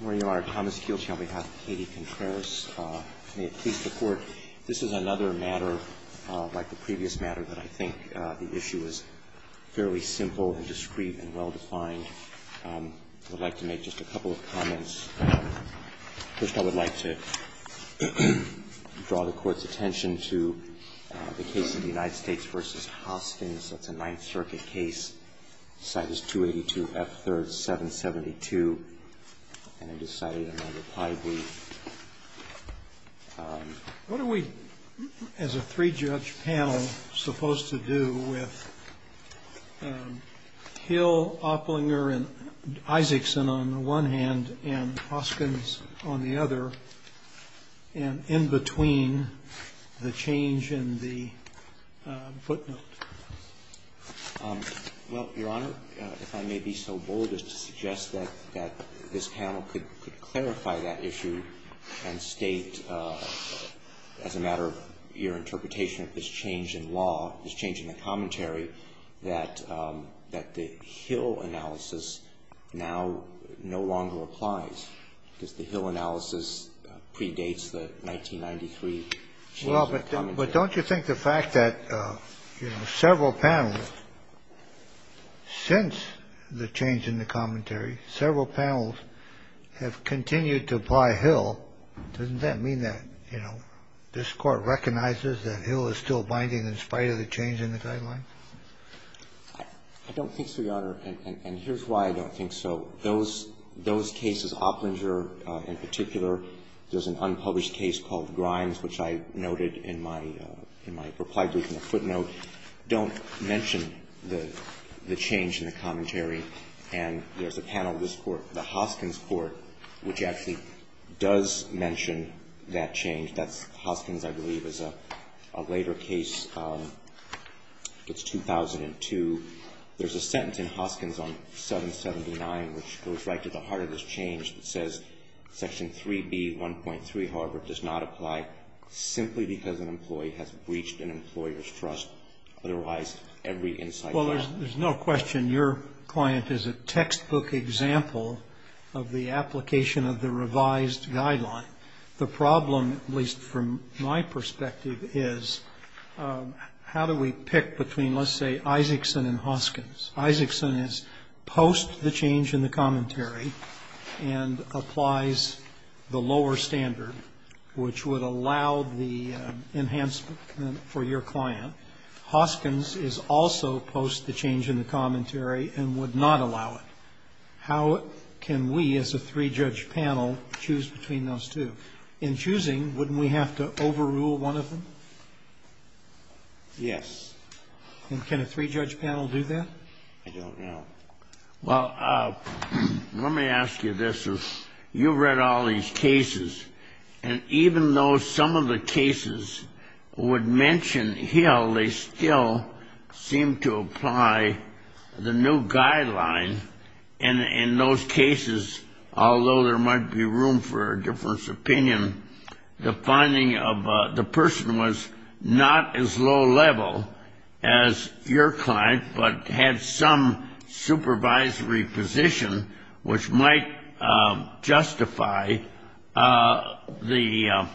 May it please the Court, this is another matter, like the previous matter, that I think the issue is fairly simple and discreet and well-defined. I would like to make just a couple of comments. First, I would like to draw the Court's attention to the case of the United States v. Hostins. That's a Ninth Circuit case. Citus 282, F. 3rd, 772. And I decided on my reply brief. What are we, as a three-judge panel, supposed to do with Hill, Opplinger, and Isaacson on the one hand, and Hostins on the other, and in between the change in the footnote? Well, Your Honor, if I may be so bold as to suggest that this panel could clarify that issue and state, as a matter of your interpretation of this change in law, this change in the commentary, that the Hill analysis now no longer applies, because the Hill analysis predates the 1993 change in the commentary. Well, but don't you think the fact that, you know, several panels since the change in the commentary, several panels have continued to apply Hill, doesn't that mean that, you know, this Court recognizes that Hill is still binding in spite of the change in the guidelines? I don't think so, Your Honor. And here's why I don't think so. Those cases, Opplinger in particular, there's an unpublished case called Grimes, which I noted in my reply brief in the footnote, don't mention the change in the commentary. And there's a panel in this Court, the Hoskins Court, which actually does mention that change. That's Hoskins, I believe, is a later case. It's 2002. There's a sentence in Hoskins on 779, which goes right to the heart of this change, that says Section 3B, 1.3, however, does not apply simply because an employee has breached an employer's trust. Otherwise, every insight. Well, there's no question your client is a textbook example of the application of the revised guideline. The problem, at least from my perspective, is how do we pick between, let's say, Isaacson and Hoskins? Isaacson is post the change in the commentary and applies the lower standard, which would allow the enhancement for your client. Hoskins is also post the change in the commentary and would not allow it. How can we, as a three-judge panel, choose between those two? In choosing, wouldn't we have to overrule one of them? Yes. And can a three-judge panel do that? I don't know. Well, let me ask you this. You've read all these cases, and even though some of the cases would mention Hill, they still seem to apply the new guideline. And in those cases, although there might be room for a difference of opinion, the finding of the person was not as low-level as your client, but had some supervisory position which might justify the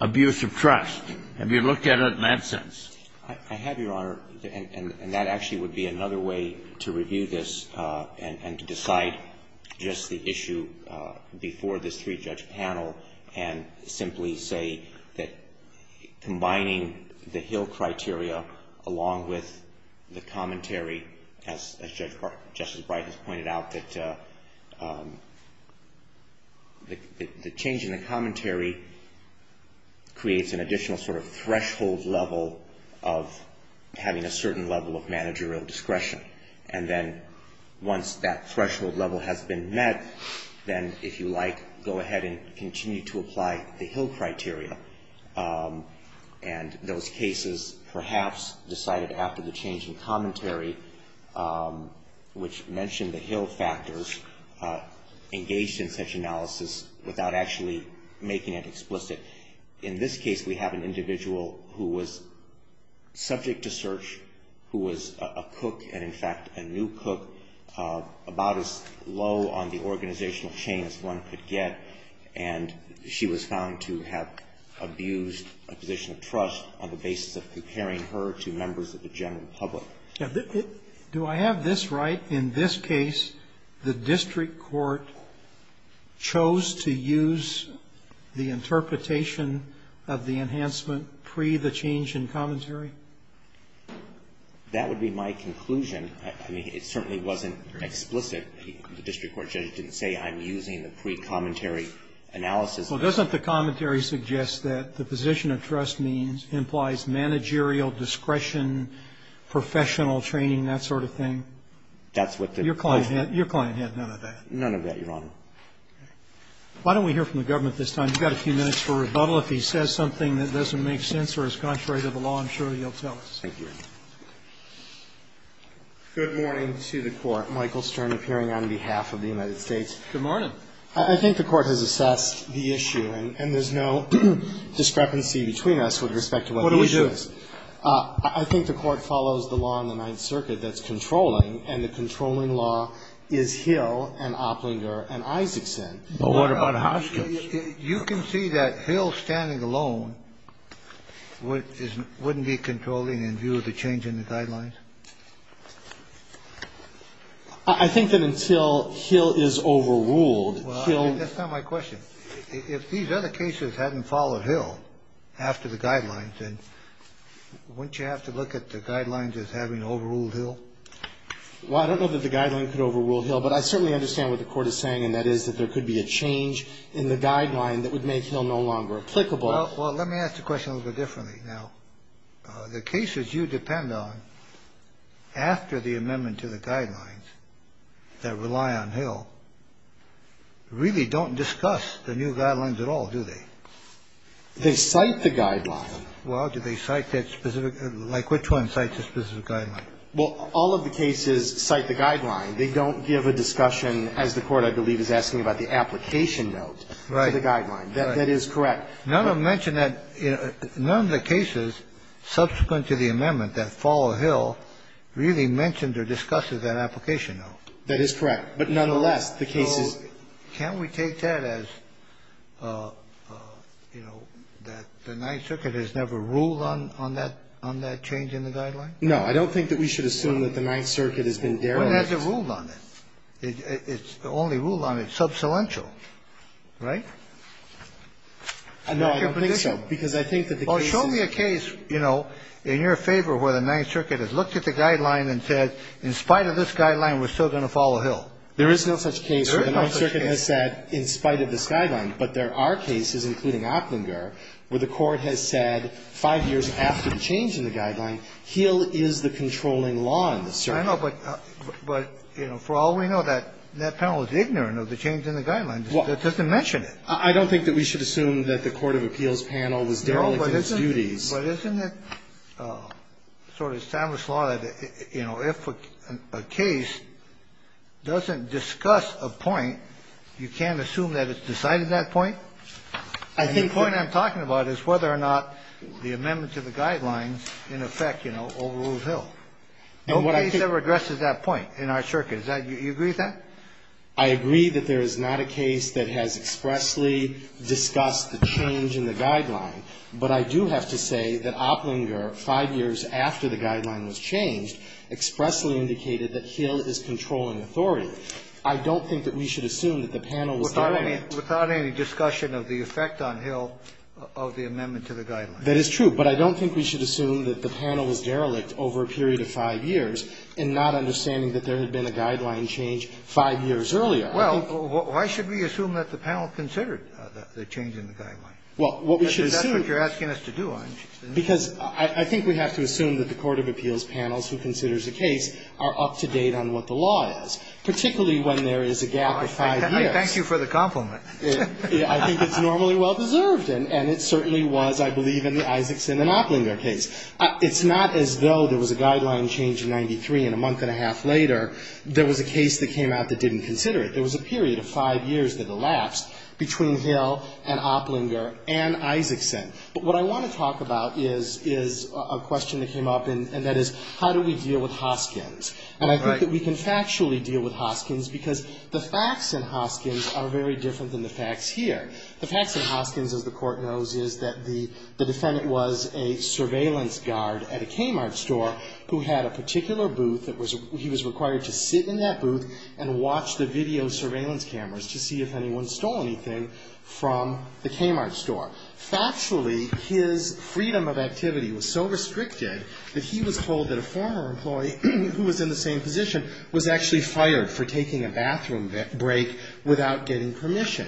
abuse of trust. Have you looked at it in that sense? I have, Your Honor, and that actually would be another way to review this and to decide just the issue before this three-judge panel and simply say that combining the Hill criteria along with the commentary, as Justice Breyton has pointed out, that the change in the commentary creates an additional sort of threshold level of having a certain level of managerial discretion. And then once that threshold level has been met, then if you like, go ahead and continue to apply the Hill criteria. And those cases perhaps decided after the change in commentary, which mentioned the Hill factors, engaged in such analysis without actually making it explicit. In this case, we have an individual who was subject to search, who was a cook and, in fact, a new cook, about as low on the organizational chain as one could get, and she was found to have abused a position of trust on the basis of comparing her to members of the general public. Do I have this right? In this case, the district court chose to use the interpretation of the enhancement pre the change in commentary? That would be my conclusion. I mean, it certainly wasn't explicit. The district court judge didn't say I'm using the pre-commentary analysis. Well, doesn't the commentary suggest that the position of trust means, implies managerial discretion, professional training, that sort of thing? That's what the client had. Your client had none of that. None of that, Your Honor. Why don't we hear from the government this time? We've got a few minutes for rebuttal. If he says something that doesn't make sense or is contrary to the law, I'm sure he'll tell us. Thank you, Your Honor. Good morning to the Court. Michael Stern appearing on behalf of the United States. Good morning. I think the Court has assessed the issue, and there's no discrepancy between us with respect to what the issue is. What do we do? I think the Court follows the law in the Ninth Circuit that's controlling, and the controlling law is Hill and Opplinger and Isaacson. Well, what about Hoskins? You can see that Hill standing alone wouldn't be controlling in view of the change in the guidelines? I think that until Hill is overruled, Hill ---- That's not my question. If these other cases hadn't followed Hill after the guidelines, then wouldn't you have to look at the guidelines as having overruled Hill? Well, I don't know that the guidelines could overrule Hill, but I certainly understand what the Court is saying, and that is that there could be a change in the guideline that would make Hill no longer applicable. Well, let me ask the question a little bit differently. Now, the cases you depend on after the amendment to the guidelines that rely on Hill really don't discuss the new guidelines at all, do they? They cite the guideline. Well, do they cite that specific ---- like which one cites the specific guideline? Well, all of the cases cite the guideline. They don't give a discussion, as the Court, I believe, is asking about, the application note to the guideline. Right. That is correct. None of them mention that. None of the cases subsequent to the amendment that follow Hill really mentioned or discusses that application note. That is correct. But nonetheless, the cases ---- So can't we take that as, you know, that the Ninth Circuit has never ruled on that change in the guideline? No. I don't think that we should assume that the Ninth Circuit has been derelict. Well, that's a rule on it. It's the only rule on it. It's substantial. Right? No, I don't think so. Because I think that the case is ---- Well, show me a case, you know, in your favor where the Ninth Circuit has looked at the guideline and said, in spite of this guideline, we're still going to follow Hill. There is no such case where the Ninth Circuit has said, in spite of this guideline, but there are cases, including Oettinger, where the Court has said, five years after the change in the guideline, Hill is the controlling law in the circuit. I know, but, you know, for all we know, that panel is ignorant of the change in the guideline. It doesn't mention it. I don't think that we should assume that the Court of Appeals panel was derelict in its duties. No, but isn't it sort of established law that, you know, if a case doesn't discuss a point, you can't assume that it's decided that point? I think that ---- And the point I'm talking about is whether or not the amendment to the guidelines in effect, you know, overrules Hill. And what I think ---- No case ever addresses that point in our circuit. Is that ---- you agree with that? I agree that there is not a case that has expressly discussed the change in the guideline, but I do have to say that Opplinger, five years after the guideline was changed, expressly indicated that Hill is controlling authority. I don't think that we should assume that the panel was derelict. Without any discussion of the effect on Hill of the amendment to the guideline. That is true, but I don't think we should assume that the panel was derelict over a period of five years in not understanding that there had been a guideline change five years earlier. I think ---- Well, why should we assume that the panel considered the change in the guideline? Well, what we should assume is ---- Because that's what you're asking us to do, aren't you? Because I think we have to assume that the court of appeals panels who considers a case are up to date on what the law is, particularly when there is a gap of five years. I thank you for the compliment. I think it's normally well-deserved, and it certainly was, I believe, in the Isaacson and Opplinger case. It's not as though there was a guideline change in 93 and a month and a half later there was a case that came out that didn't consider it. There was a period of five years that elapsed between Hill and Opplinger and Isaacson. But what I want to talk about is a question that came up, and that is, how do we deal with Hoskins? And I think that we can factually deal with Hoskins because the facts in Hoskins are very different than the facts here. The facts in Hoskins, as the Court knows, is that the defendant was a surveillance guard at a Kmart store who had a particular booth that was ---- he was required to sit in that booth and watch the video surveillance cameras to see if anyone stole anything from the Kmart store. Factually, his freedom of activity was so restricted that he was told that a former employee who was in the same position was actually fired for taking a bathroom break without getting permission.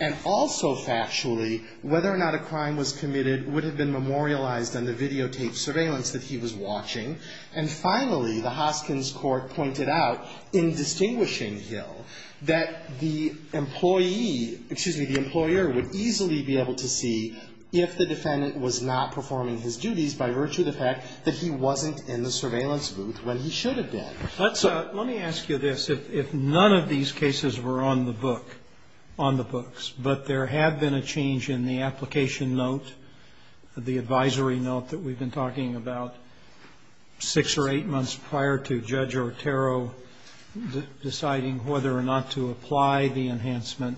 And also factually, whether or not a crime was committed would have been memorialized on the videotaped surveillance that he was watching. And finally, the Hoskins Court pointed out, in distinguishing Hill, that the employee ---- excuse me, the employer would easily be able to see if the defendant was not performing his duties by virtue of the fact that he wasn't in the surveillance booth when he should have been. Let's ---- let me ask you this. If none of these cases were on the book, on the books, but there had been a change in the application note, the advisory note that we've been talking about six or eight months prior to Judge Otero deciding whether or not to apply the enhancement,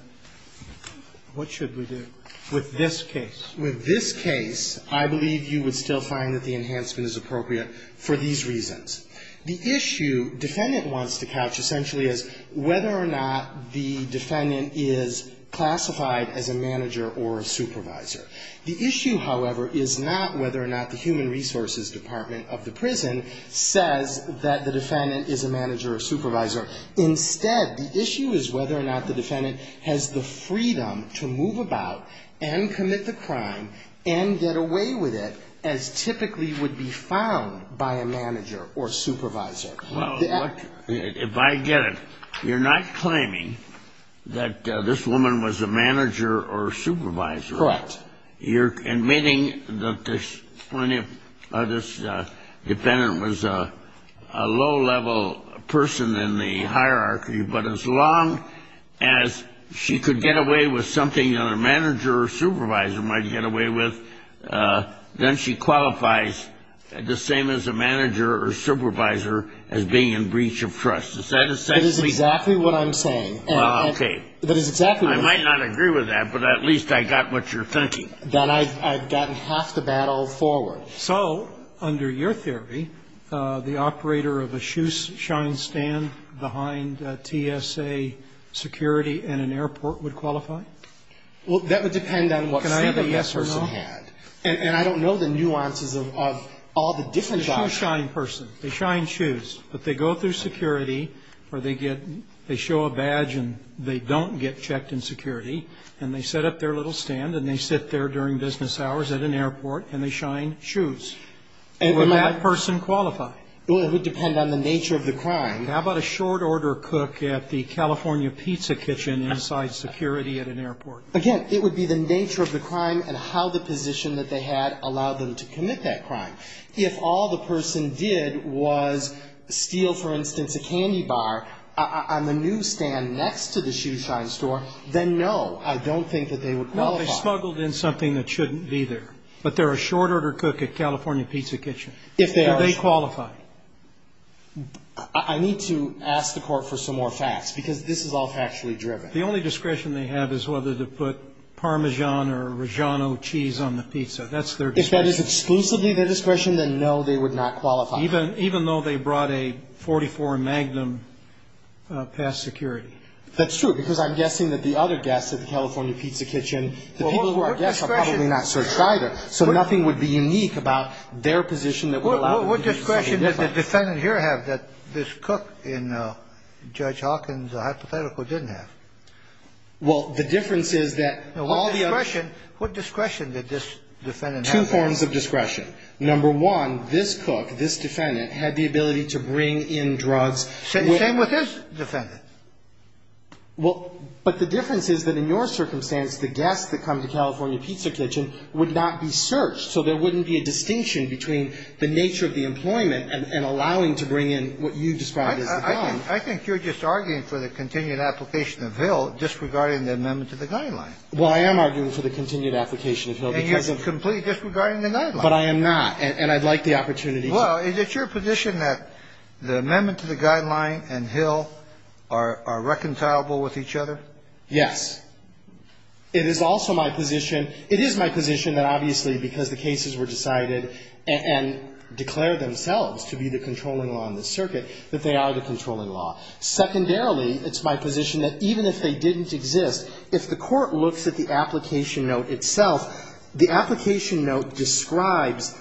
what should we do with this case? With this case, I believe you would still find that the enhancement is appropriate for these reasons. The issue defendant wants to couch essentially is whether or not the defendant is classified as a manager or a supervisor. The issue, however, is not whether or not the human resources department of the prison says that the defendant is a manager or supervisor. Instead, the issue is whether or not the defendant has the freedom to move about and commit the crime and get away with it as typically would be found by a manager or supervisor. If I get it, you're not claiming that this woman was a manager or supervisor. Correct. You're admitting that this defendant was a low-level person in the hierarchy, but as long as she could get away with something that a manager or supervisor might get away with, then she qualifies the same as a manager or supervisor as being in breach of trust. Is that essentially? That is exactly what I'm saying. That is exactly what I'm saying. I might not agree with that, but at least I got what you're thinking. Then I've gotten half the battle forward. So under your theory, the operator of a shoeshine stand behind TSA security in an airport would qualify? Well, that would depend on what state the person had. Can I have a yes or no? And I don't know the nuances of all the different jobs. The shoeshine person, they shine shoes, but they go through security or they get they show a badge and they don't get checked in security and they set up their little stand and they sit there during business hours at an airport and they shine shoes. Would that person qualify? Well, it would depend on the nature of the crime. How about a short order cook at the California Pizza Kitchen inside security at an airport? Again, it would be the nature of the crime and how the position that they had allowed them to commit that crime. If all the person did was steal, for instance, a candy bar on the new stand next to the shoeshine store, then no, I don't think that they would qualify. Well, if they smuggled in something that shouldn't be there. But they're a short order cook at California Pizza Kitchen. If they are. Do they qualify? I need to ask the court for some more facts, because this is all factually driven. The only discretion they have is whether to put Parmesan or Reggiano cheese on the pizza. That's their discretion. If that is exclusively their discretion, then no, they would not qualify. Even though they brought a .44 Magnum past security. That's true, because I'm guessing that the other guests at the California Pizza Kitchen, the people who are guests are probably not searched either, so nothing would be unique about their position that would allow them to be safe. What discretion does the defendant here have that this cook in Judge Hawkins' hypothetical didn't have? Well, the difference is that all the other. What discretion did this defendant have? Two forms of discretion. Number one, this cook, this defendant, had the ability to bring in drugs. Same with this defendant. Well, but the difference is that in your circumstance, the guests that come to California and allow them to bring in what you've described as a gun. I think you're just arguing for the continued application of Hill disregarding the amendment to the Guideline. Well, I am arguing for the continued application of Hill because of the. And you're completely disregarding the Guideline. But I am not, and I'd like the opportunity to. Well, is it your position that the amendment to the Guideline and Hill are reconcilable with each other? Yes. It is also my position, it is my position that obviously because the cases were decided and declared themselves to be the controlling law in the circuit, that they are the controlling law. Secondarily, it's my position that even if they didn't exist, if the court looks at the application note itself, the application note describes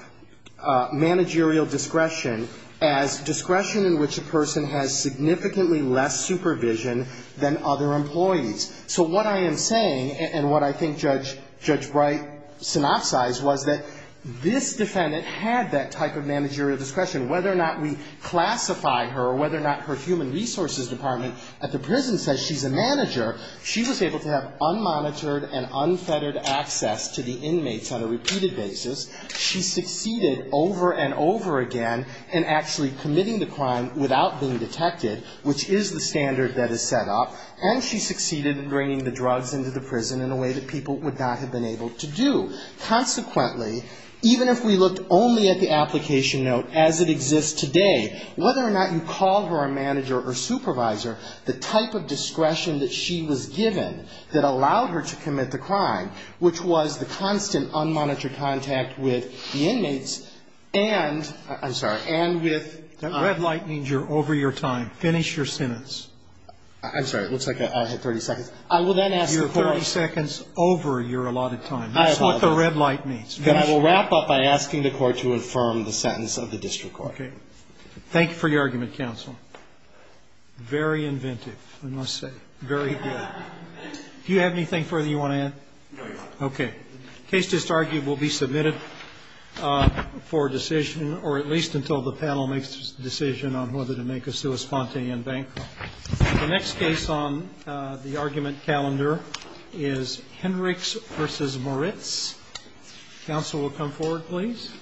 managerial discretion as discretion in which a person has significantly less supervision than other employees. So what I am saying and what I think Judge Bright synopsized was that this defendant had that type of managerial discretion. Whether or not we classify her or whether or not her human resources department at the prison says she's a manager, she was able to have unmonitored and unfettered access to the inmates on a repeated basis. She succeeded over and over again in actually committing the crime without being detected, which is the standard that is set up. And she succeeded in bringing the drugs into the prison in a way that people would not have been able to do. Consequently, even if we looked only at the application note as it exists today, whether or not you call her a manager or supervisor, the type of discretion that she was given that allowed her to commit the crime, which was the constant unmonitored contact with the inmates and the inmates and with the inmates. I'm sorry. That red light means you're over your time. Finish your sentence. I'm sorry. It looks like I have 30 seconds. I will then ask the Court. You're 30 seconds over your allotted time. That's what the red light means. And I will wrap up by asking the Court to affirm the sentence of the district court. Okay. Thank you for your argument, counsel. Very inventive, I must say. Very good. Do you have anything further you want to add? No, Your Honor. Okay. The case just argued will be submitted for decision, or at least until the panel makes the decision on whether to make a sui spontane in bankruptcy. The next case on the argument calendar is Hendricks v. Moritz. Counsel will come forward, please.